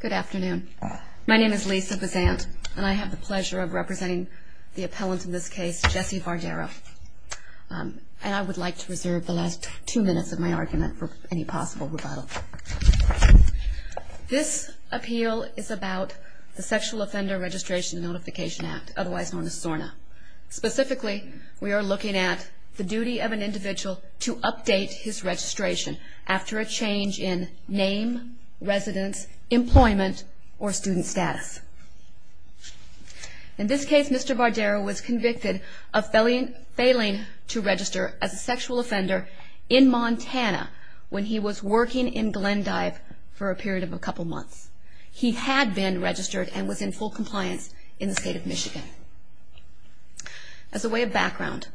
Good afternoon. My name is Lisa Bizant, and I have the pleasure of representing the appellant in this case, Jesse Vardaro. And I would like to reserve the last two minutes of my argument for any possible rebuttal. This appeal is about the Sexual Offender Registration and Notification Act, otherwise known as SORNA. Specifically, we are looking at the duty of an individual to update his employment or student status. In this case, Mr. Vardaro was convicted of failing to register as a sexual offender in Montana when he was working in Glendive for a period of a couple months. He had been registered and was in full compliance in the state of Michigan. As a way of background,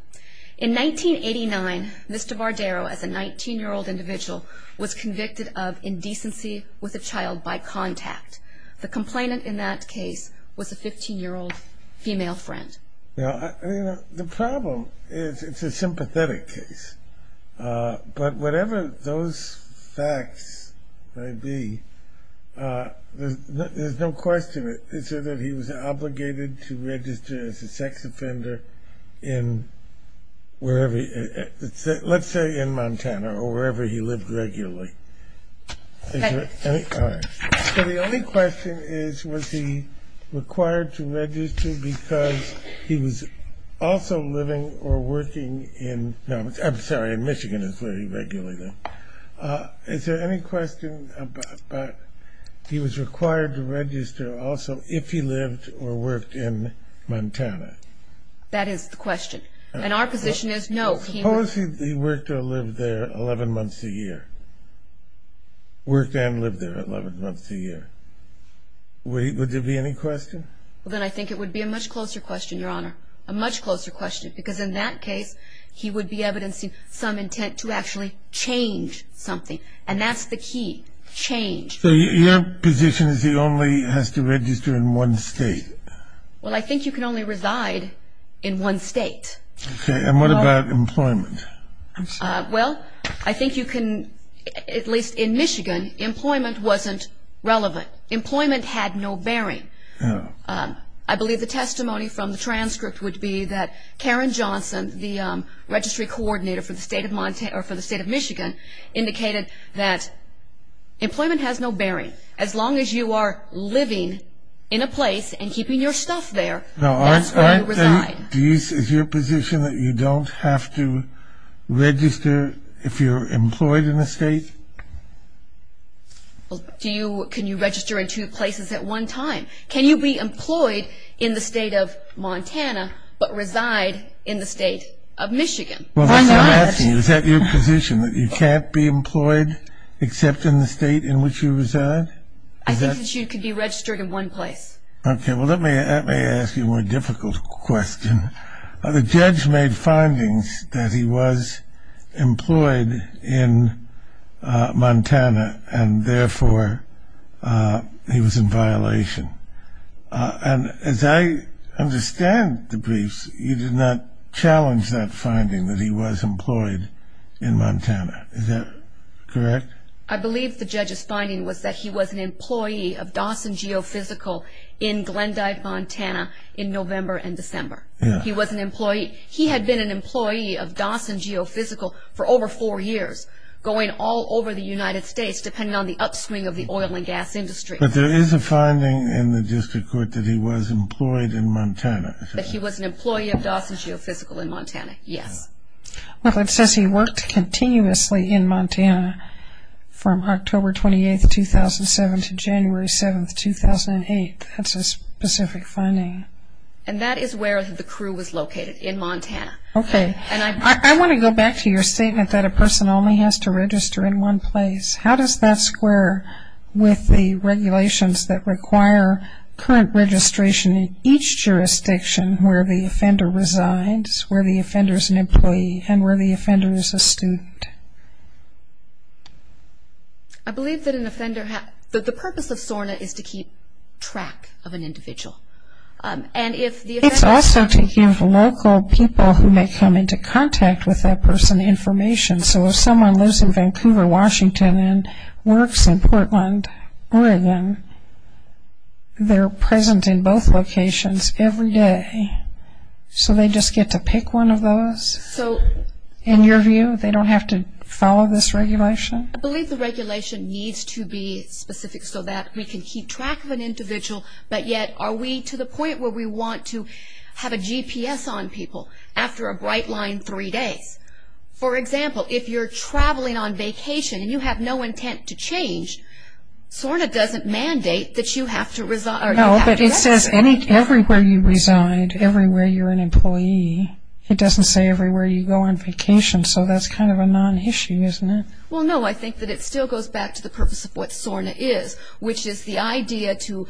in 1989, Mr. Vardaro, as a 19-year-old individual, was convicted of indecency with a child by contact. The complainant in that case was a 15-year-old female friend. The problem is, it's a sympathetic case, but whatever those facts may be, there's no question that he was obligated to register as a sex offender in, let's say, in Montana, or wherever he lived regularly. So the only question is, was he required to register because he was also living or working in, I'm sorry, in Michigan is where he regularly lived. Is there any question about he was required to register also if he lived or worked in Montana? That is the question. And our position is, no, he was required to register and live there 11 months a year. Worked and lived there 11 months a year. Would there be any question? Well, then I think it would be a much closer question, Your Honor. A much closer question. Because in that case, he would be evidencing some intent to actually change something. And that's the key. Change. So your position is he only has to register in one state? Well, I think you can only reside in one state. Okay. And what about employment? Well, I think you can, at least in Michigan, employment wasn't relevant. Employment had no bearing. I believe the testimony from the transcript would be that Karen Johnson, the registry coordinator for the state of Michigan, indicated that employment has no bearing. As long as you are living in a place and keeping your stuff there, that's where you reside. Is your position that you don't have to register if you're employed in a state? Well, can you register in two places at one time? Can you be employed in the state of Montana, but reside in the state of Michigan? Well, that's what I'm asking. Is that your position, that you can't be employed except in the state in which you reside? I think that you can be registered in one place. Okay. Well, let me ask you a more difficult question. The judge made findings that he was employed in Montana and, therefore, he was in violation. And as I understand the briefs, you did not challenge that finding that he was employed in Montana. Is that correct? I believe the judge's finding was that he was an employee of Dawson Geophysical in Glendive, Montana, in November and December. He was an employee. He had been an employee of Dawson Geophysical for over four years, going all over the United States, depending on the upswing of the oil and gas industry. But there is a finding in the district court that he was employed in Montana. That he was an employee of Dawson Geophysical in Montana, yes. Well, it says he worked continuously in Montana from October 28, 2007, to January 7, 2008. That's a specific finding. And that is where the crew was located, in Montana. Okay. I want to go back to your statement that a person only has to register in one place. How does that square with the regulations that require current registration in each jurisdiction where the offender resides, where the offender is an employee, and where the offender is a student? I believe that an offender has, that the purpose of SORNA is to keep track of an individual. And if the offender... It's also to give local people who may come into contact with that person information. So if someone lives in Vancouver, Washington, and works in Portland, Oregon, they're present in both locations every day. So they just get to pick one of those. In your view, they don't have to follow this regulation? I believe the regulation needs to be specific so that we can keep track of an individual. But yet, are we to the point where we want to have a GPS on people after a bright line three days? For example, if you're traveling on vacation and you have no intent to change, SORNA doesn't mandate that you have to... No, but it says everywhere you reside, everywhere you're an employee. It doesn't say everywhere you go on vacation. So that's kind of a non-issue, isn't it? Well, no. I think that it still goes back to the purpose of what SORNA is, which is the idea to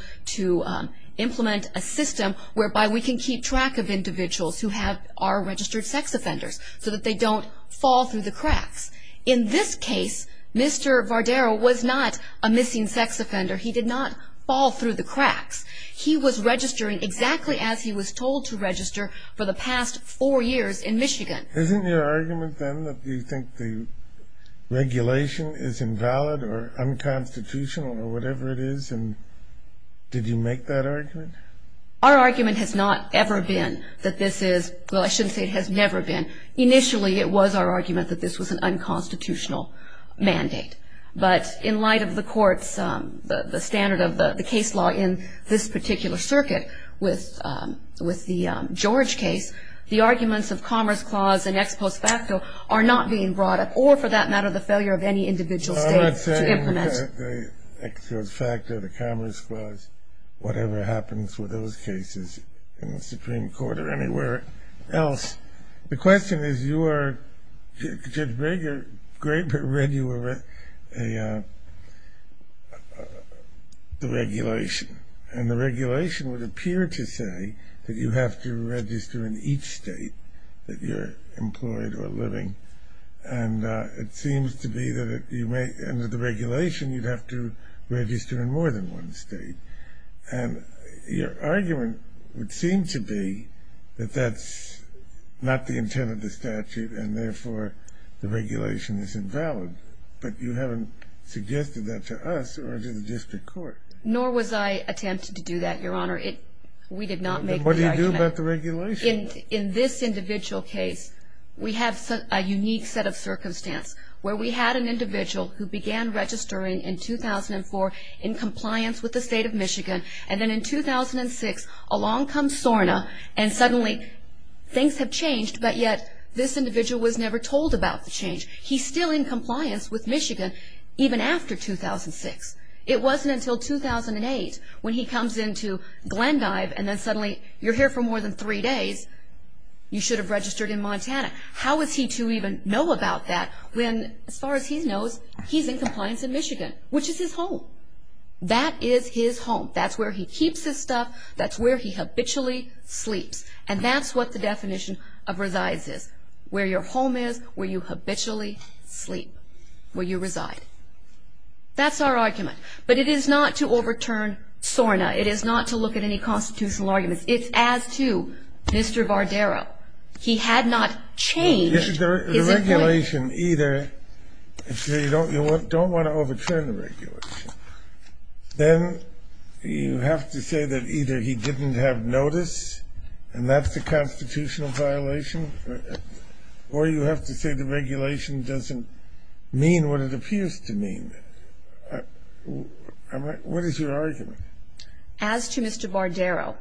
implement a system whereby we can keep track of individuals who are registered sex offenders so that they don't fall through the cracks. In this case, Mr. Vardero was not a missing sex offender as he was told to register for the past four years in Michigan. Isn't your argument, then, that you think the regulation is invalid or unconstitutional or whatever it is? Did you make that argument? Our argument has not ever been that this is... Well, I shouldn't say it has never been. Initially, it was our argument that this was an unconstitutional mandate. But in light of the courts, the standard of the case law in this particular circuit with the George case, the arguments of Commerce Clause and Ex Post Facto are not being brought up, or for that matter, the failure of any individual state to implement... I'm not saying the Ex Post Facto, the Commerce Clause, whatever happens with those cases in the Supreme Court or anywhere else. The question is, you are... Judge Graeber read you the regulation, and the regulation would appear to say that you have to register in each state that you're employed or living. And it seems to be that under the regulation, you'd have to register in more than one state. And your argument would seem to be that that's not the statute, and therefore, the regulation is invalid. But you haven't suggested that to us or to the district court. Nor was I attempting to do that, Your Honor. We did not make the argument. Then what do you do about the regulation? In this individual case, we have a unique set of circumstance where we had an individual who began registering in 2004 in compliance with the state of Michigan. And then in 2006, along comes SORNA, and suddenly, things have changed. But yet, this individual was never told about the change. He's still in compliance with Michigan, even after 2006. It wasn't until 2008 when he comes into Glendive, and then suddenly, you're here for more than three days, you should have registered in Montana. How is he to even know about that when, as far as he knows, he's in compliance in Michigan, which is his home. That is his home. That's where he keeps his stuff. That's where he habitually sleeps. And that's what the definition of resides is, where your home is, where you habitually sleep, where you reside. That's our argument. But it is not to overturn SORNA. It is not to look at any constitutional arguments. It's as to Mr. Bardero. He had not changed. The regulation either, you don't want to overturn the regulation. Then, you have to say that either he didn't have notice, and that's a constitutional violation, or you have to say the regulation doesn't mean what it appears to mean. What is your argument? As to Mr. Bardero,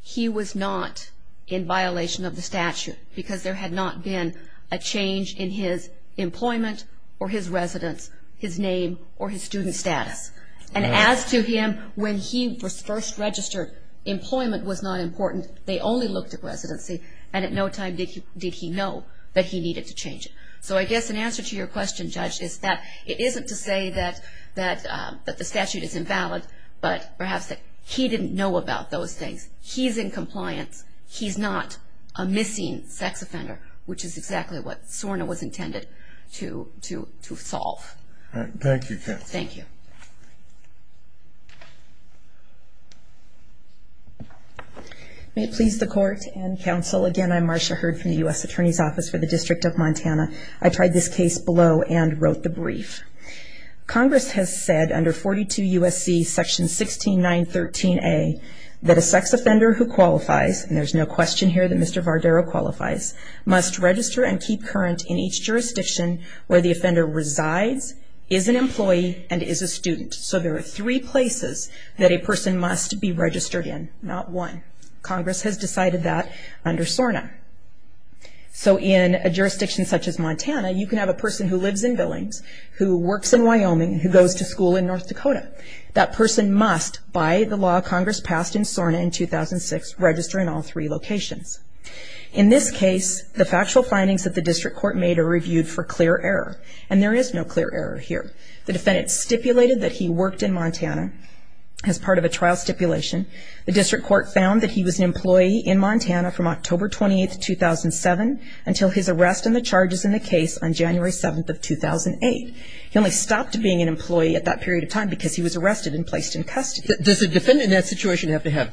he was not in violation of the statute, because there had not been a change in his employment, or his residence, his name, or his student status. And as to him, when he was first registered, employment was not important. They only looked at residency, and at no time did he know that he needed to change it. So I guess an answer to your question, Judge, is that it isn't to say that the statute is invalid, but perhaps that he didn't know about those things. He's in compliance. He's not a missing sex offender, which is exactly what SORNA was intended to solve. Thank you, Counsel. Thank you. May it please the Court and Counsel, again, I'm Marcia Hurd from the U.S. Attorney's Office for the District of Montana. I tried this case below and wrote the brief. Congress has said under 42 U.S.C. section 16913A, that a sex offender who qualifies, and there's no question here that Mr. Bardero qualifies, must register and keep current in each jurisdiction where the is an employee and is a student. So there are three places that a person must be registered in, not one. Congress has decided that under SORNA. So in a jurisdiction such as Montana, you can have a person who lives in Billings, who works in Wyoming, who goes to school in North Dakota. That person must, by the law Congress passed in SORNA in 2006, register in all three locations. In this case, the factual findings that the district court made are reviewed for clear error. And there is no clear error here. The defendant stipulated that he worked in Montana as part of a trial stipulation. The district court found that he was an employee in Montana from October 28th, 2007 until his arrest and the charges in the case on January 7th of 2008. He only stopped being an employee at that period of time because he was arrested and placed in custody. Does a defendant in that situation have to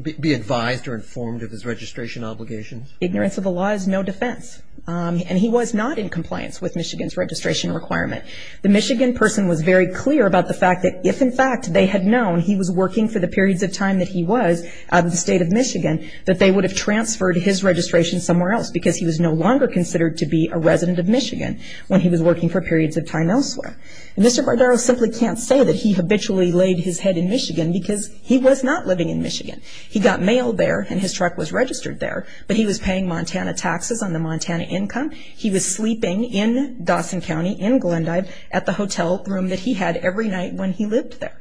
be advised or informed of his registration obligations? Ignorance of the law is no defense. And he was not in compliance with Michigan's registration requirement. The Michigan person was very clear about the fact that if, in fact, they had known he was working for the periods of time that he was out of the state of Michigan, that they would have transferred his registration somewhere else because he was no longer considered to be a resident of Michigan when he was working for periods of time elsewhere. Mr. Bardaro simply can't say that he habitually laid his head in Michigan because he was not living in Michigan. He got mailed there and his truck was registered there. But he was paying Montana taxes on the Montana income. He was sleeping in Dawson County, in Glendive, at the hotel room that he had every night when he lived there.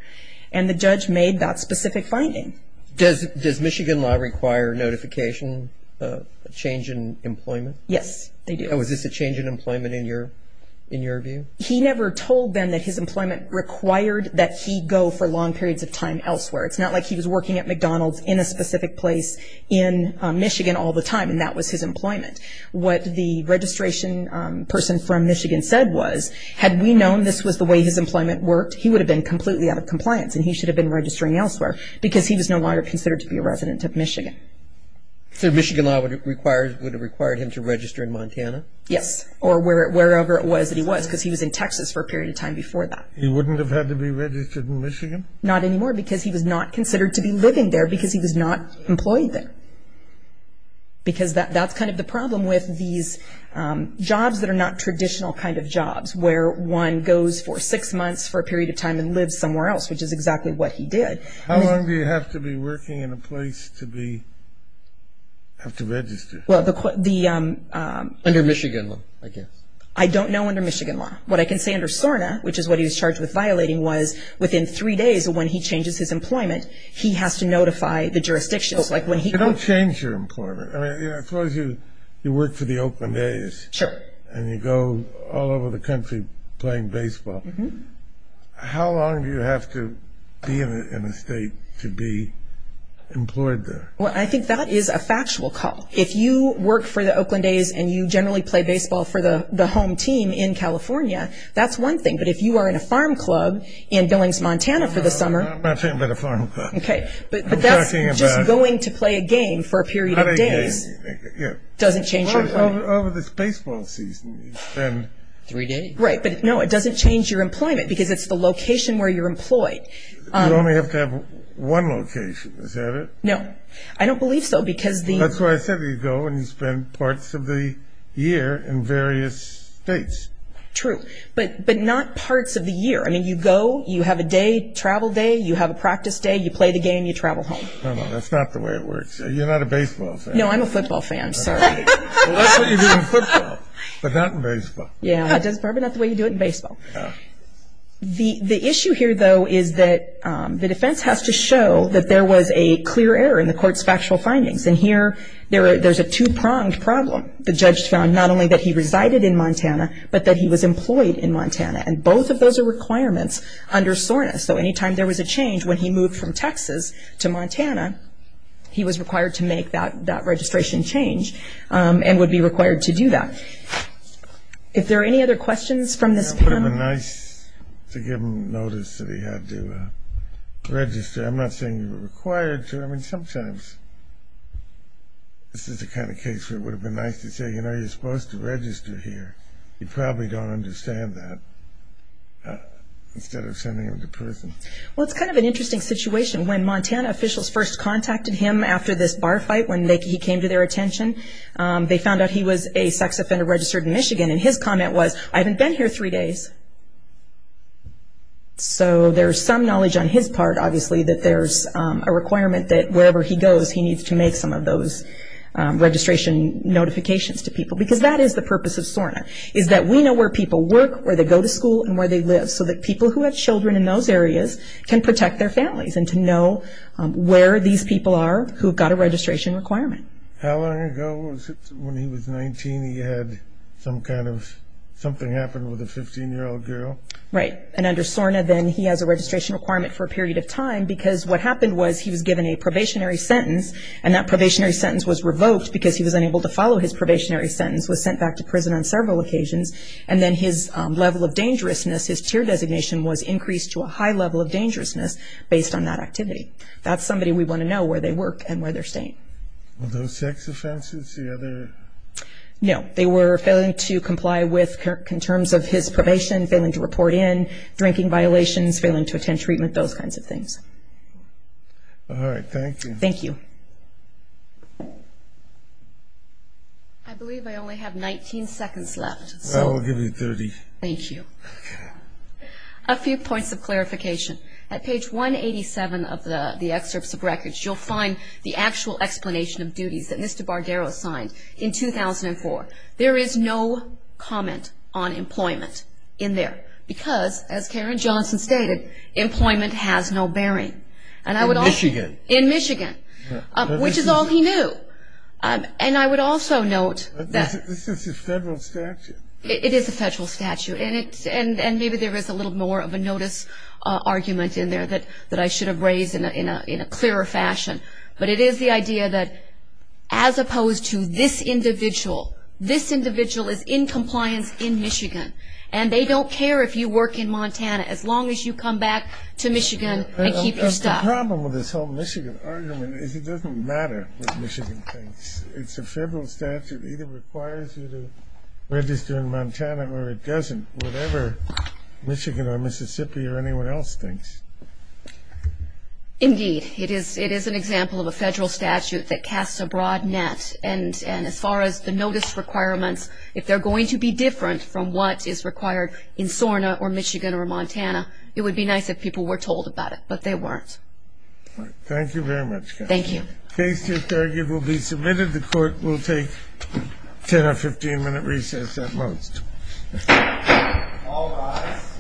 And the judge made that specific finding. Does Michigan law require notification of a change in employment? Yes, they do. Was this a change in employment in your view? He never told them that his employment required that he go for long periods of time elsewhere. It's not like he was working at McDonald's in a specific place in Michigan all the time and that was his employment. What the registration person from Michigan said was, had we known this was the way his employment worked, he would have been completely out of compliance and he should have been registering elsewhere because he was no longer considered to be a resident of Michigan. So Michigan law would have required him to register in Montana? Yes, or wherever it was that he was because he was in Texas for a period of time before that. He wouldn't have had to be registered in Michigan? Not anymore because he was not considered to be living there because he was not employed there. Because that's kind of the problem with these jobs that are not traditional kind of jobs where one goes for six months for a period of time and lives somewhere else, which is exactly what he did. How long do you have to be working in a place to have to register? Under Michigan law, I guess. I don't know under Michigan law. What I can say under SORNA, which is what he was charged with violating, was within three days of when he was asked to notify the jurisdictions. You don't change your employment. I suppose you work for the Oakland A's and you go all over the country playing baseball. How long do you have to be in a state to be employed there? I think that is a factual call. If you work for the Oakland A's and you generally play baseball for the home team in California, that's one thing. But if you are in a farm club in Billings, Montana for the summer... I'm not talking about a farm club. But that's just going to play a game for a period of days doesn't change your employment. Over this baseball season, you spend... Three days. Right, but no, it doesn't change your employment because it's the location where you're employed. You only have to have one location, is that it? No, I don't believe so because the... That's why I said you go and you spend parts of the year in various states. True, but not parts of the year. I mean, you go, you have a day, travel day, you have a practice day, you play the game, you travel home. No, no, that's not the way it works. You're not a baseball fan. No, I'm a football fan, sorry. Well, that's what you do in football, but not in baseball. Yeah, that's probably not the way you do it in baseball. The issue here, though, is that the defense has to show that there was a clear error in the court's factual findings. And here, there's a two-pronged problem. The judge found not only that he resided in Montana, but that he was employed in Montana. And both of those are requirements under SORNA. So any time there was a change, when he moved from Texas to Montana, he was required to make that registration change and would be required to do that. If there are any other questions from this panel... It would have been nice to give him notice that he had to register. I'm not saying he was required to. I mean, sometimes this is the kind of case where it would have been nice to say, you know, you're supposed to register here. You probably don't understand that, instead of sending him to prison. Well, it's kind of an interesting situation. When Montana officials first contacted him after this bar fight, when he came to their attention, they found out he was a sex offender registered in Michigan. And his comment was, I haven't been here three days. So there's some knowledge on his part, obviously, that there's a requirement that wherever he goes, he needs to make some of those registration notifications to people. Because that is the purpose of SORNA, is that we know where people work, where they go to school, and where they live. So that people who have children in those areas can protect their families and to know where these people are who've got a registration requirement. How long ago was it, when he was 19, he had some kind of, something happened with a 15-year-old girl? Right. And under SORNA, then, he has a registration requirement for a period of time because what happened was he was given a probationary sentence, and that probationary sentence was revoked because he was unable to follow his probationary sentence, was sent back to prison on several occasions. And then his level of dangerousness, his tier designation, was increased to a high level of dangerousness based on that activity. That's somebody we want to know where they work and where they're staying. Are those sex offenses? No. They were failing to comply with, in terms of his probation, failing to report in, drinking violations, failing to attend treatment, those kinds of things. All right. Thank you. Thank you. I believe I only have 19 seconds left. I will give you 30. Thank you. Okay. A few points of clarification. At page 187 of the excerpts of records, you'll find the actual explanation of duties that Mr. Bardero signed in 2004. There is no comment on employment in there because, as Karen Johnson stated, employment has no bearing. In Michigan. In Michigan, which is all he knew. And I would also note that. This is a federal statute. It is a federal statute, and maybe there is a little more of a notice argument in there that I should have raised in a clearer fashion. But it is the idea that, as opposed to this individual, this individual is in compliance in Michigan, and they don't care if you work in Montana, as long as you come back to Michigan and keep your stuff. The problem with this whole Michigan argument is it doesn't matter what Michigan thinks. It's a federal statute. It either requires you to register in Montana or it doesn't, whatever Michigan or Mississippi or anyone else thinks. Indeed. It is an example of a federal statute that casts a broad net, and as far as the notice requirements, if they're going to be different from what is required in SORNA or Michigan or Montana, it would be nice if people were told about it, but they weren't. Thank you very much, Karen. Thank you. Case to argue will be submitted. The court will take a 10- or 15-minute recess at most. All rise.